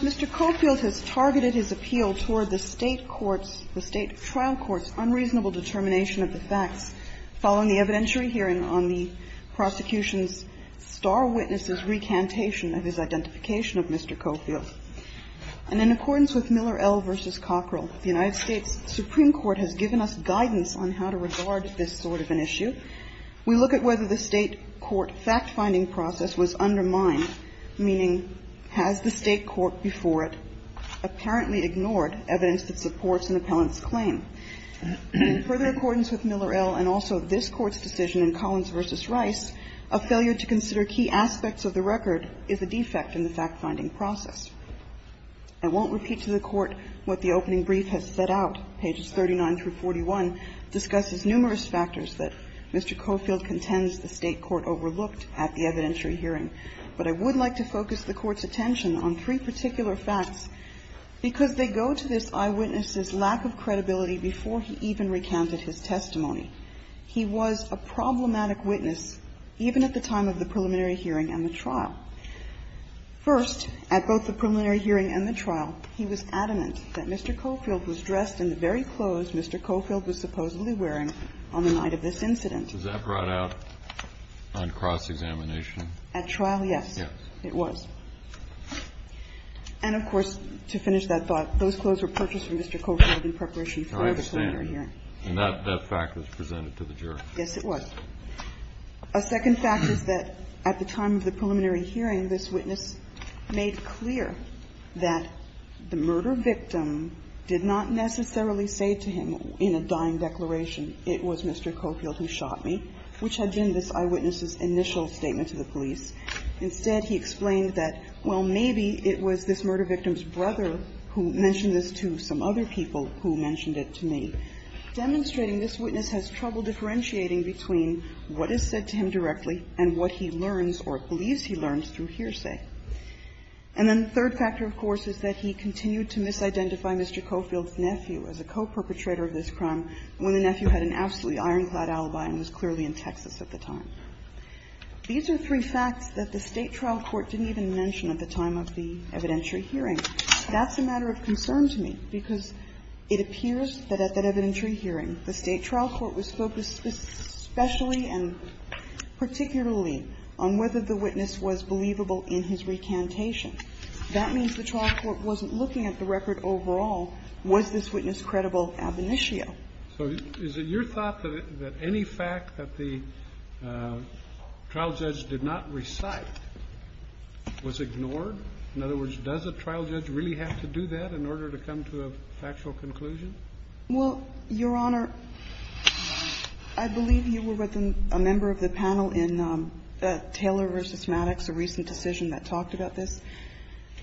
Mr. Cofield has targeted his appeal toward the state trial court's unreasonable determination of the facts following the evidentiary hearing on the prosecution's star witness' recantation of his identification of Mr. Cofield. And in accordance with Miller L v. Cockrell, the United States Supreme Court has given us guidance on how to regard this sort of an issue. We look at whether the state court fact-finding process was undermined, meaning has the state court before it apparently ignored evidence that supports an appellant's claim. In further accordance with Miller L and also this Court's decision in Collins v. Rice, a failure to consider key aspects of the record is a defect in the fact-finding process. I won't repeat to the Court what the opening brief has set out. Pages 39 through 41 discusses numerous factors that Mr. Cofield contends the state court overlooked at the evidentiary hearing. But I would like to focus the Court's attention on three particular facts, because they go to this eyewitness' lack of credibility before he even recounted his testimony. He was a problematic witness even at the time of the preliminary hearing and the trial. First, at both the preliminary hearing and the trial, he was adamant that Mr. Cofield was dressed in the very clothes Mr. Cofield was supposedly wearing on the night of this incident. Kennedy, was that brought out on cross-examination? At trial, yes, it was. And, of course, to finish that thought, those clothes were purchased from Mr. Cofield in preparation for the preliminary hearing. And that fact was presented to the jury. Yes, it was. A second fact is that at the time of the preliminary hearing, this witness made clear that the murder victim did not necessarily say to him in a dying declaration, it was Mr. Cofield who shot me, which had been this eyewitness' initial statement to the police. Instead, he explained that, well, maybe it was this murder victim's brother who mentioned this to some other people who mentioned it to me, demonstrating this witness has trouble differentiating between what is said to him directly and what he learns or believes he learns through hearsay. And then the third factor, of course, is that he continued to misidentify Mr. Cofield's nephew as a co-perpetrator of this crime when the nephew had an absolutely ironclad alibi and was clearly in Texas at the time. These are three facts that the State trial court didn't even mention at the time of the evidentiary hearing. That's a matter of concern to me, because it appears that at that evidentiary hearing, the State trial court was focused especially and particularly on whether the witness was believable in his recantation. That means the trial court wasn't looking at the record overall. Was this witness credible ab initio? So is it your thought that any fact that the trial judge did not recite was ignored? In other words, does a trial judge really have to do that in order to come to a factual conclusion? Well, Your Honor, I believe you were with a member of the panel in Taylor v. Maddox, a recent decision that talked about this.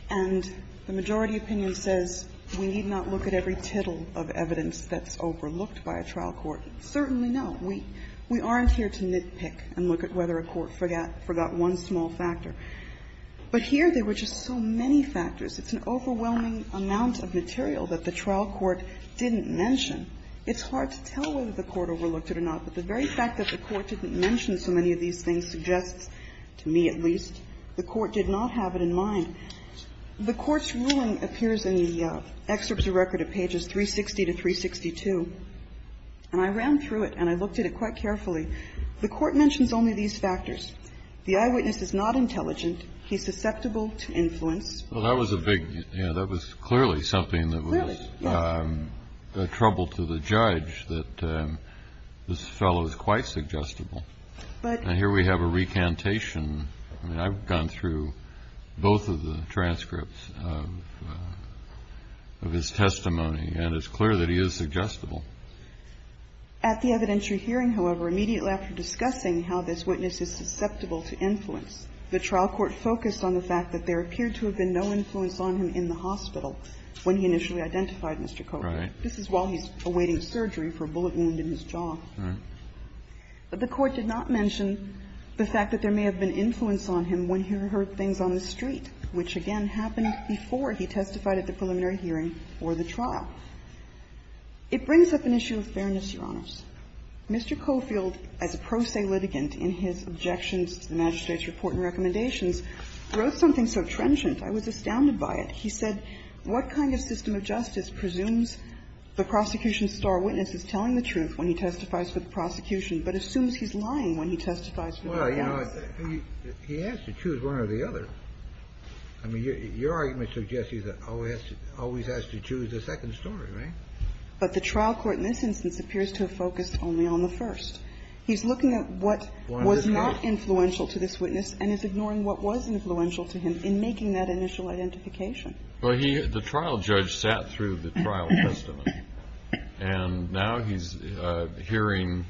And the majority opinion says we need not look at every tittle of evidence that's overlooked by a trial court. Certainly no. We aren't here to nitpick and look at whether a court forgot one small factor. But here there were just so many factors. It's an overwhelming amount of material that the trial court didn't mention. It's hard to tell whether the court overlooked it or not, but the very fact that the court didn't mention so many of these things suggests, to me at least, the court did not have it in mind. The Court's ruling appears in the excerpts of record at pages 360 to 362. And I ran through it and I looked at it quite carefully. The Court mentions only these factors. The eyewitness is not intelligent. He's susceptible to influence. Well, that was a big, you know, that was clearly something that was a trouble to the judge, that this fellow is quite suggestible. But here we have a recantation. I mean, I've gone through both of the transcripts of his testimony, and it's clear that he is suggestible. At the evidentiary hearing, however, immediately after discussing how this witness is susceptible to influence, the trial court focused on the fact that there appeared to have been no influence on him in the hospital when he initially identified Mr. Cofield. This is while he's awaiting surgery for a bullet wound in his jaw. The Court did not mention the fact that there may have been influence on him when he heard things on the street, which again happened before he testified at the preliminary hearing or the trial. It brings up an issue of fairness, Your Honors. Mr. Cofield, as a pro se litigant in his objections to the magistrate's report and recommendations, wrote something so transient I was astounded by it. He said, what kind of system of justice presumes the prosecution's star witness is telling the truth when he testifies for the prosecution, but assumes he's lying when he testifies for the witness? Well, you know, he has to choose one or the other. I mean, your argument suggests he always has to choose the second story, right? But the trial court in this instance appears to have focused only on the first. He's looking at what was not influential to this witness and is ignoring what was influential to him in making that initial identification. Well, he the trial judge sat through the trial testimony, and now he's hearing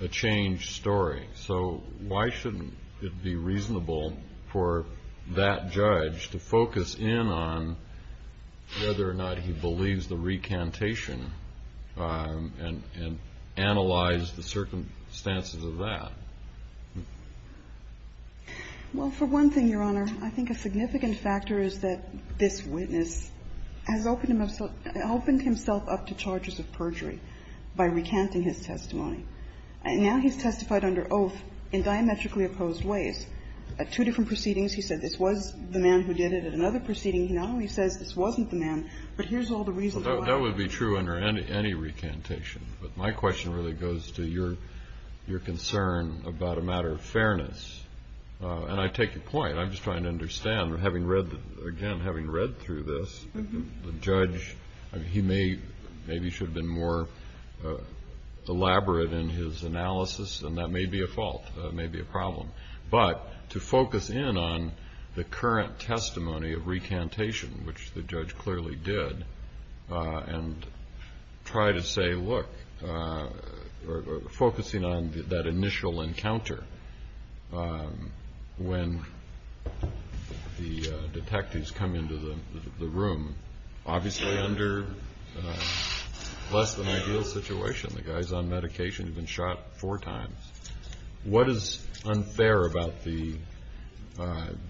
a changed story. So why shouldn't it be reasonable for that judge to focus in on whether or not he believes the recantation and analyze the circumstances of that? Well, for one thing, Your Honor, I think a significant factor is that this witness has opened himself up to charges of perjury by recanting his testimony. And now he's testified under oath in diametrically opposed ways. At two different proceedings he said this was the man who did it. At another proceeding he not only says this wasn't the man, but here's all the reasons why. That would be true under any recantation. But my question really goes to your concern about a matter of fairness. And I take your point. I'm just trying to understand, having read, again, having read through this, the judge he may maybe should have been more elaborate in his analysis, and that may be a fault, may be a problem. But to focus in on the current testimony of recantation, which the judge clearly did, and try to say, look, focusing on that initial encounter when the detectives come into the room, obviously under less than ideal situation. The guy's on medication. He's been shot four times. What is unfair about the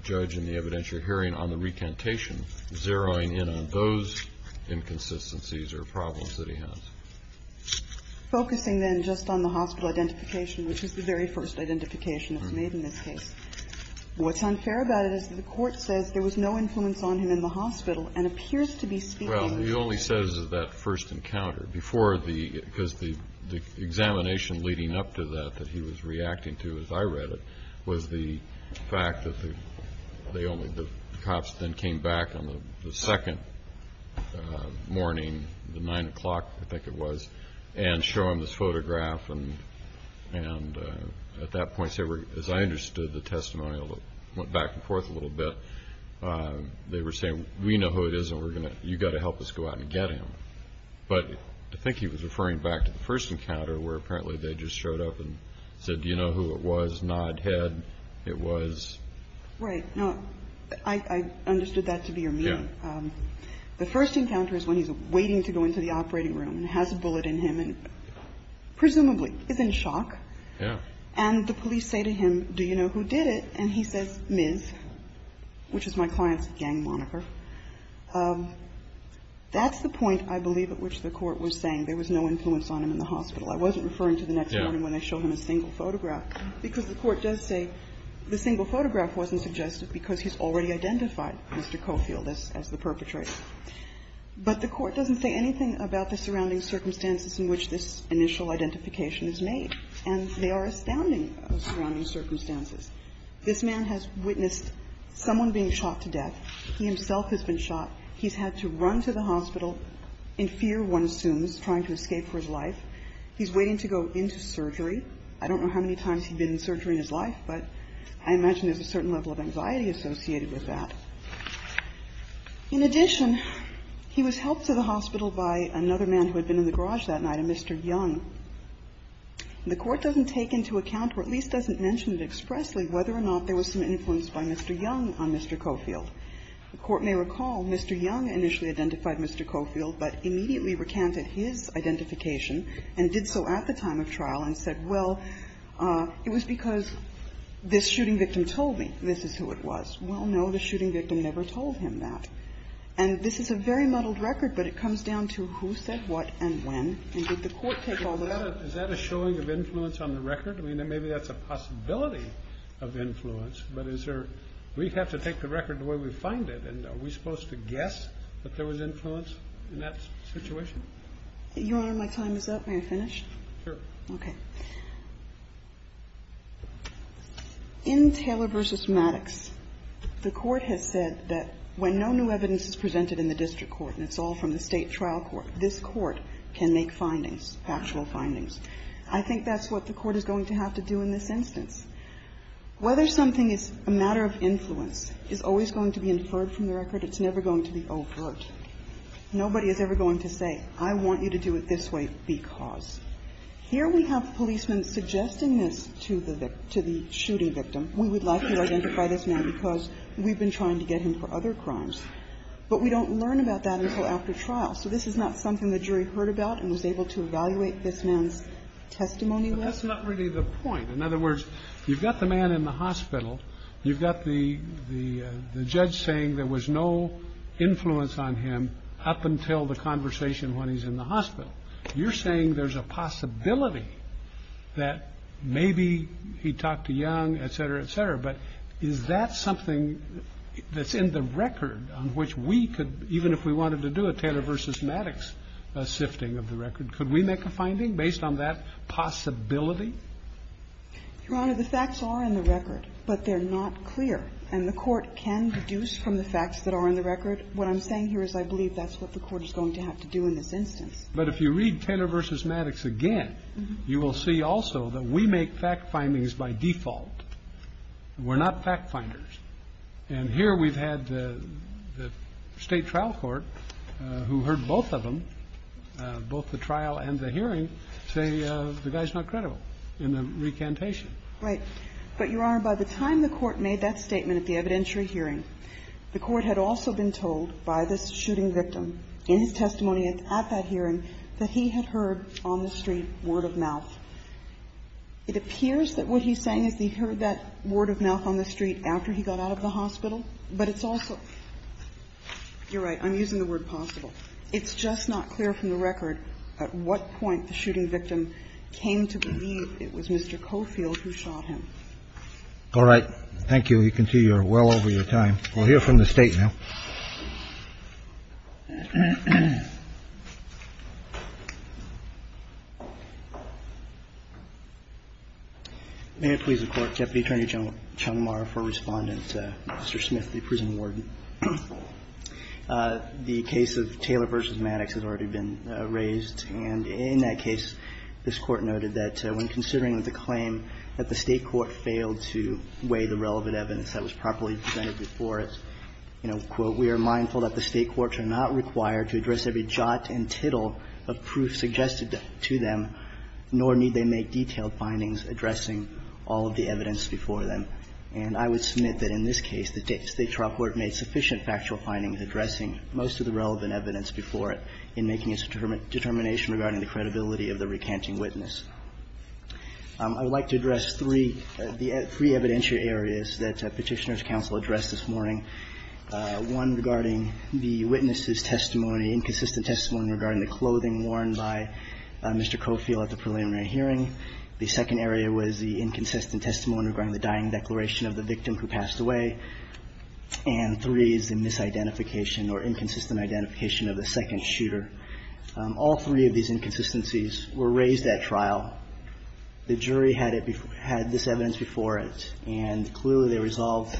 judge in the evidentiary hearing on the recantation zeroing in on those inconsistencies or problems that he has? Focusing, then, just on the hospital identification, which is the very first identification that's made in this case, what's unfair about it is that the Court says there was no influence on him in the hospital and appears to be speaking with the judge. Well, he only says that first encounter. Because the examination leading up to that that he was reacting to, as I read it, was the fact that the cops then came back on the second morning, the 9 o'clock, I think it was, and show him this photograph. And at that point, as I understood the testimonial, it went back and forth a little bit. They were saying, we know who it is, and you've got to help us go out and get him. But I think he was referring back to the first encounter, where apparently they just showed up and said, do you know who it was, nodded head, it was. Right. Now, I understood that to be your meaning. The first encounter is when he's waiting to go into the operating room and has a bullet in him and presumably is in shock. Yeah. And the police say to him, do you know who did it? And he says, Ms., which is my client's gang moniker. That's the point, I believe, at which the Court was saying there was no influence on him in the hospital. I wasn't referring to the next morning when they showed him a single photograph, because the Court does say the single photograph wasn't suggested because he's already identified Mr. Coffield as the perpetrator. But the Court doesn't say anything about the surrounding circumstances in which this initial identification is made. And they are astounding surrounding circumstances. This man has witnessed someone being shot to death. He himself has been shot. He's had to run to the hospital in fear, one assumes, trying to escape for his life. He's waiting to go into surgery. I don't know how many times he's been in surgery in his life, but I imagine there's a certain level of anxiety associated with that. In addition, he was helped to the hospital by another man who had been in the garage that night, a Mr. Young. The Court doesn't take into account or at least doesn't mention it expressly whether or not there was some influence by Mr. Young on Mr. Coffield. The Court may recall Mr. Young initially identified Mr. Coffield, but immediately recanted his identification, and did so at the time of trial, and said, well, it was because this shooting victim told me this is who it was. Well, no, the shooting victim never told him that. And this is a very muddled record, but it comes down to who said what and when, and did the Court take it all about? Kennedy, is that a showing of influence on the record? I mean, maybe that's a possibility of influence, but is there we have to take the record the way we find it, and are we supposed to guess that there was influence in that situation? Your Honor, my time is up. May I finish? Sure. Okay. In Taylor v. Maddox, the Court has said that when no new evidence is presented in the district court, and it's all from the state trial court, this Court can make findings, factual findings. I think that's what the Court is going to have to do in this instance. Whether something is a matter of influence is always going to be inferred from the record. It's never going to be overt. Nobody is ever going to say, I want you to do it this way because. Here we have policemen suggesting this to the shooting victim. We would like you to identify this man because we've been trying to get him for other crimes. But we don't learn about that until after trial. So this is not something the jury heard about and was able to evaluate this man's testimony with. But that's not really the point. In other words, you've got the man in the hospital. You've got the judge saying there was no influence on him up until the conversation when he's in the hospital. You're saying there's a possibility that maybe he talked to Young, etc., etc. But is that something that's in the record on which we could, even if we wanted to do a Taylor v. Maddox sifting of the record, could we make a finding based on that possibility? Your Honor, the facts are in the record, but they're not clear. And the Court can deduce from the facts that are in the record. What I'm saying here is I believe that's what the Court is going to have to do in this instance. But if you read Taylor v. Maddox again, you will see also that we make fact findings by default. We're not fact finders. And here we've had the State Trial Court, who heard both of them, both the trial and the hearing, say the guy's not credible in the incantation. Right. But, Your Honor, by the time the Court made that statement at the evidentiary hearing, the Court had also been told by this shooting victim in his testimony at that hearing that he had heard on the street word of mouth. It appears that what he's saying is he heard that word of mouth on the street after he got out of the hospital, but it's also you're right, I'm using the word possible. It's just not clear from the record at what point the shooting victim came to believe it was Mr. Cofield who shot him. All right. Thank you. You can see you're well over your time. We'll hear from the State now. May it please the Court. Deputy Attorney General Chalamar for Respondent, Mr. Smith, the prison warden. The case of Taylor v. Maddox has already been raised, and in that case, this Court noted that when considering that the claim that the State court failed to weigh the relevant evidence that was properly presented before us, you know, quote, we are mindful that the State courts are not required to address every jot and tittle of proof suggested to them, nor need they make detailed findings addressing all of the evidence before them. And I would submit that in this case, the State trial court made sufficient factual findings addressing most of the relevant evidence before it in making its determination regarding the credibility of the recanting witness. I would like to address three, the three evidentiary areas that Petitioner's counsel addressed this morning, one regarding the witness's testimony, inconsistent testimony regarding the clothing worn by Mr. Cofield at the preliminary hearing. The second area was the inconsistent testimony regarding the dying declaration of the victim who passed away. And three is the misidentification or inconsistent identification of the second shooter. All three of these inconsistencies were raised at trial. The jury had it before – had this evidence before it, and clearly, they resolved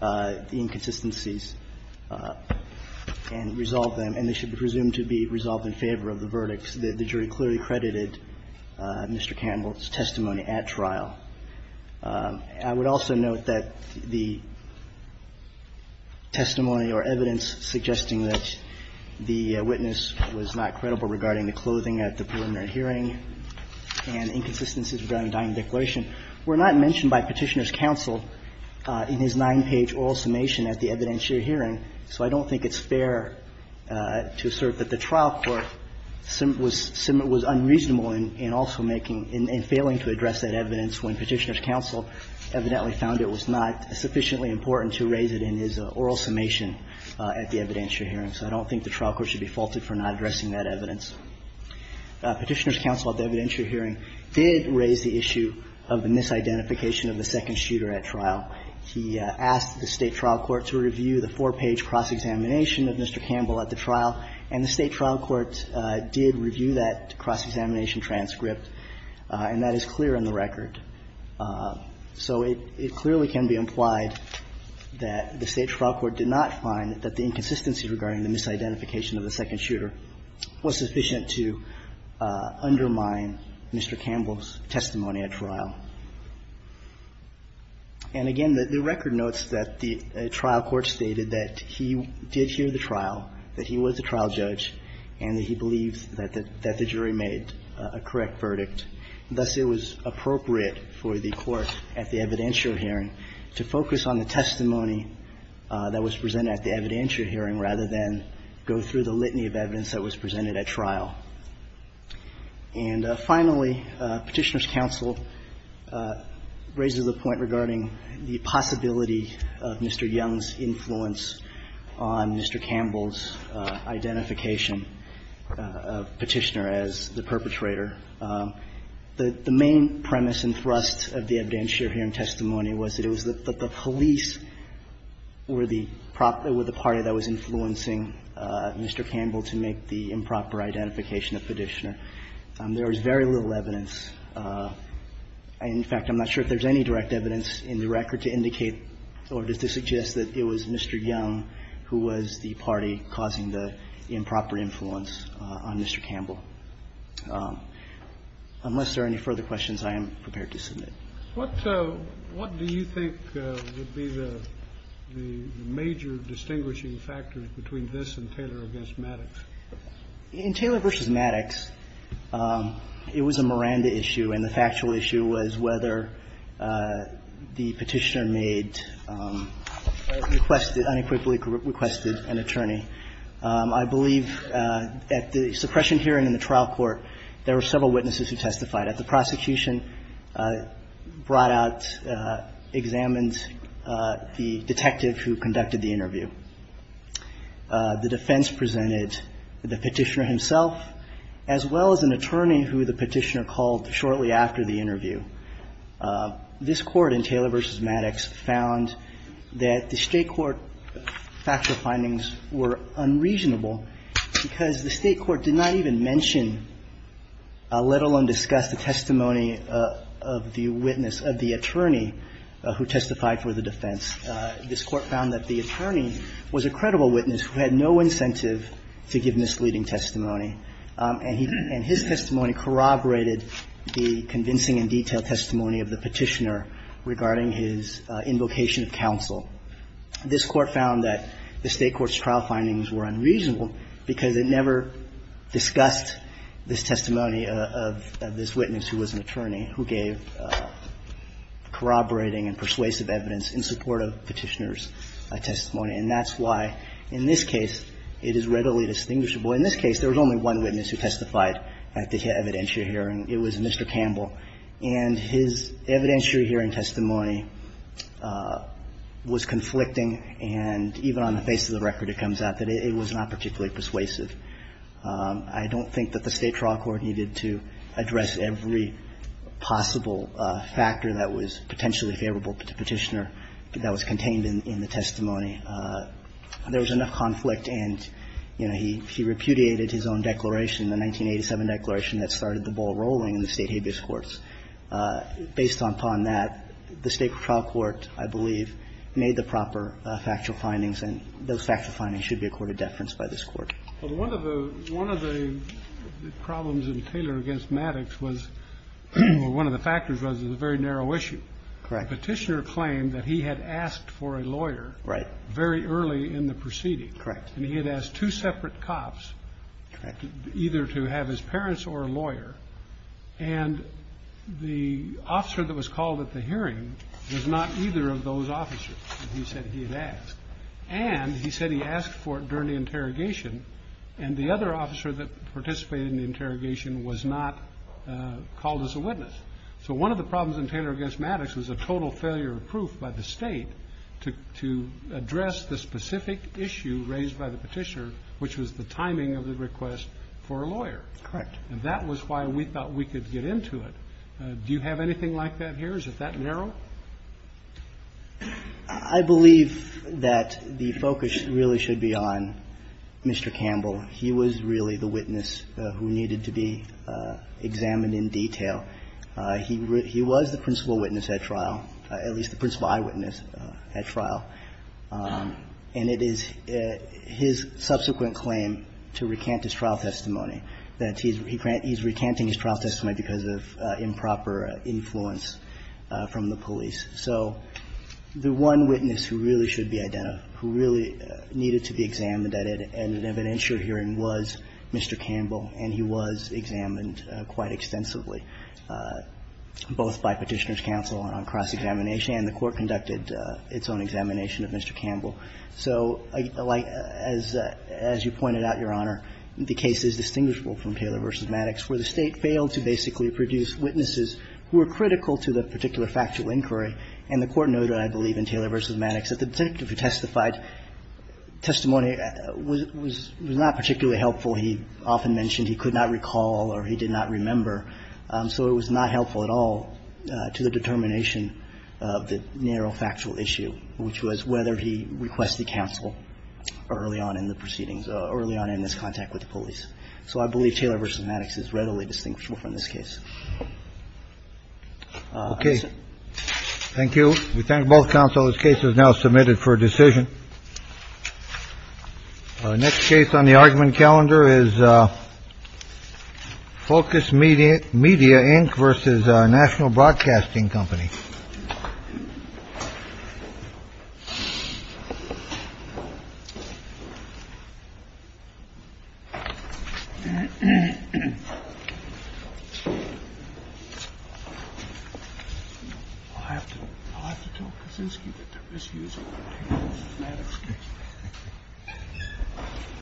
the inconsistencies and resolved them, and they should be presumed to be resolved in favor of the verdicts. The jury clearly credited Mr. Canvill's testimony at trial. I would also note that the testimony or evidence suggesting that the witness was not credible regarding the clothing at the preliminary hearing and inconsistencies regarding dying declaration were not mentioned by Petitioner's counsel in his nine-page oral summation at the evidentiary hearing, so I don't think it's fair to assert that the trial court was unreasonable in also making – in failing to address that evidence when Petitioner's counsel evidently found it was not sufficiently important to raise it in his oral summation at the evidentiary hearing, so I don't think the trial court should be faulted for not addressing that evidence. Petitioner's counsel at the evidentiary hearing did raise the issue of the misidentification of the second shooter at trial. He asked the State trial court to review the four-page cross-examination of Mr. Canvill at the trial, and the State trial court did review that cross-examination transcript, and that is clear in the record. So it clearly can be implied that the State trial court did not find that the inconsistency regarding the misidentification of the second shooter was sufficient to undermine Mr. Canvill's testimony at trial. And again, the record notes that the trial court stated that he did hear the trial, that he was the trial judge, and that he believed that the jury made a correct verdict. Thus, it was appropriate for the court at the evidentiary hearing to focus on the testimony that was presented at the evidentiary hearing rather than go through the litany of evidence that was presented at trial. And finally, Petitioner's counsel raises a point regarding the possibility of Mr. Young's influence on Mr. Canvill's identification of Petitioner as the perpetrator. The main premise and thrust of the evidentiary hearing testimony was that it was that the police were the party that was influencing Mr. Canvill to make the improper identification of Petitioner. There was very little evidence. In fact, I'm not sure if there's any direct evidence in the record to indicate or to suggest that it was Mr. Young who was the party causing the improper influence on Mr. Canvill. Unless there are any further questions, I am prepared to submit. Kennedy. What do you think would be the major distinguishing factors between this and Taylor v. Maddox? In Taylor v. Maddox, it was a Miranda issue, and the factual issue was whether the Petitioner made, requested, unequivocally requested an attorney. I believe at the suppression hearing in the trial court, there were several witnesses who testified. At the prosecution, brought out, examined the detective who conducted the interview. The defense presented the Petitioner himself, as well as an attorney who the Petitioner called shortly after the interview. This Court in Taylor v. Maddox found that the State court factual findings were unreasonable because the State court did not even mention, let alone discuss, the testimony of the witness, of the attorney who testified for the defense. This Court found that the attorney was a credible witness who had no incentive to give misleading testimony, and his testimony corroborated the convincing and detailed testimony of the Petitioner regarding his invocation of counsel. This Court found that the State court's trial findings were unreasonable because it never discussed this testimony of this witness who was an attorney who gave corroborating and persuasive evidence in support of Petitioner's testimony. And that's why, in this case, it is readily distinguishable. In this case, there was only one witness who testified at the evidentiary hearing. It was Mr. Campbell. And his evidentiary hearing testimony was conflicting, and even on the face of the record, it comes out that it was not particularly persuasive. I don't think that the State trial court needed to address every possible factor that was potentially favorable to Petitioner that was contained in the testimony. There was enough conflict, and, you know, he repudiated his own declaration, the 1987 declaration that started the ball rolling in the State habeas courts. Based upon that, the State trial court, I believe, made the proper factual findings, and those factual findings should be accorded deference by this Court. Well, one of the problems in Taylor v. Maddox was one of the factors was it was a very narrow issue. Correct. Petitioner claimed that he had asked for a lawyer very early in the proceeding. Correct. And he had asked two separate cops either to have his parents or a lawyer. And the officer that was called at the hearing was not either of those officers that he said he had asked. And he said he asked for it during the interrogation, and the other officer that participated in the interrogation was not called as a witness. So one of the problems in Taylor v. Maddox was a total failure of proof by the State to address the specific issue raised by the Petitioner, which was the timing of the request for a lawyer. Correct. And that was why we thought we could get into it. Do you have anything like that here? Is it that narrow? I believe that the focus really should be on Mr. Campbell. He was really the witness who needed to be examined in detail. He was the principal witness at trial, at least the principal eyewitness at trial. And it is his subsequent claim to recant his trial testimony that he's recanting his trial testimony because of improper influence from the police. So the one witness who really should be identified, who really needed to be examined at an evidentiary hearing was Mr. Campbell, and he was examined quite extensively, both by Petitioner's counsel and on cross-examination. And the Court conducted its own examination of Mr. Campbell. So as you pointed out, Your Honor, the case is distinguishable from Taylor v. Maddox where the State failed to basically produce witnesses who were critical to the particular factual inquiry. And the Court noted, I believe, in Taylor v. Maddox that the detective who testified testimony was not particularly helpful. He often mentioned he could not recall or he did not remember, so it was not helpful at all to the determination of the narrow factual issue, which was whether he requested counsel early on in the proceedings, early on in his contact with the police. So I believe Taylor v. Maddox is readily distinct from this case. OK. Thank you. We thank both counsel. This case is now submitted for decision. Next case on the argument calendar is Focus Media. Media Inc. versus National Broadcasting Company. And. I have to I have to talk to this. You get to misuse.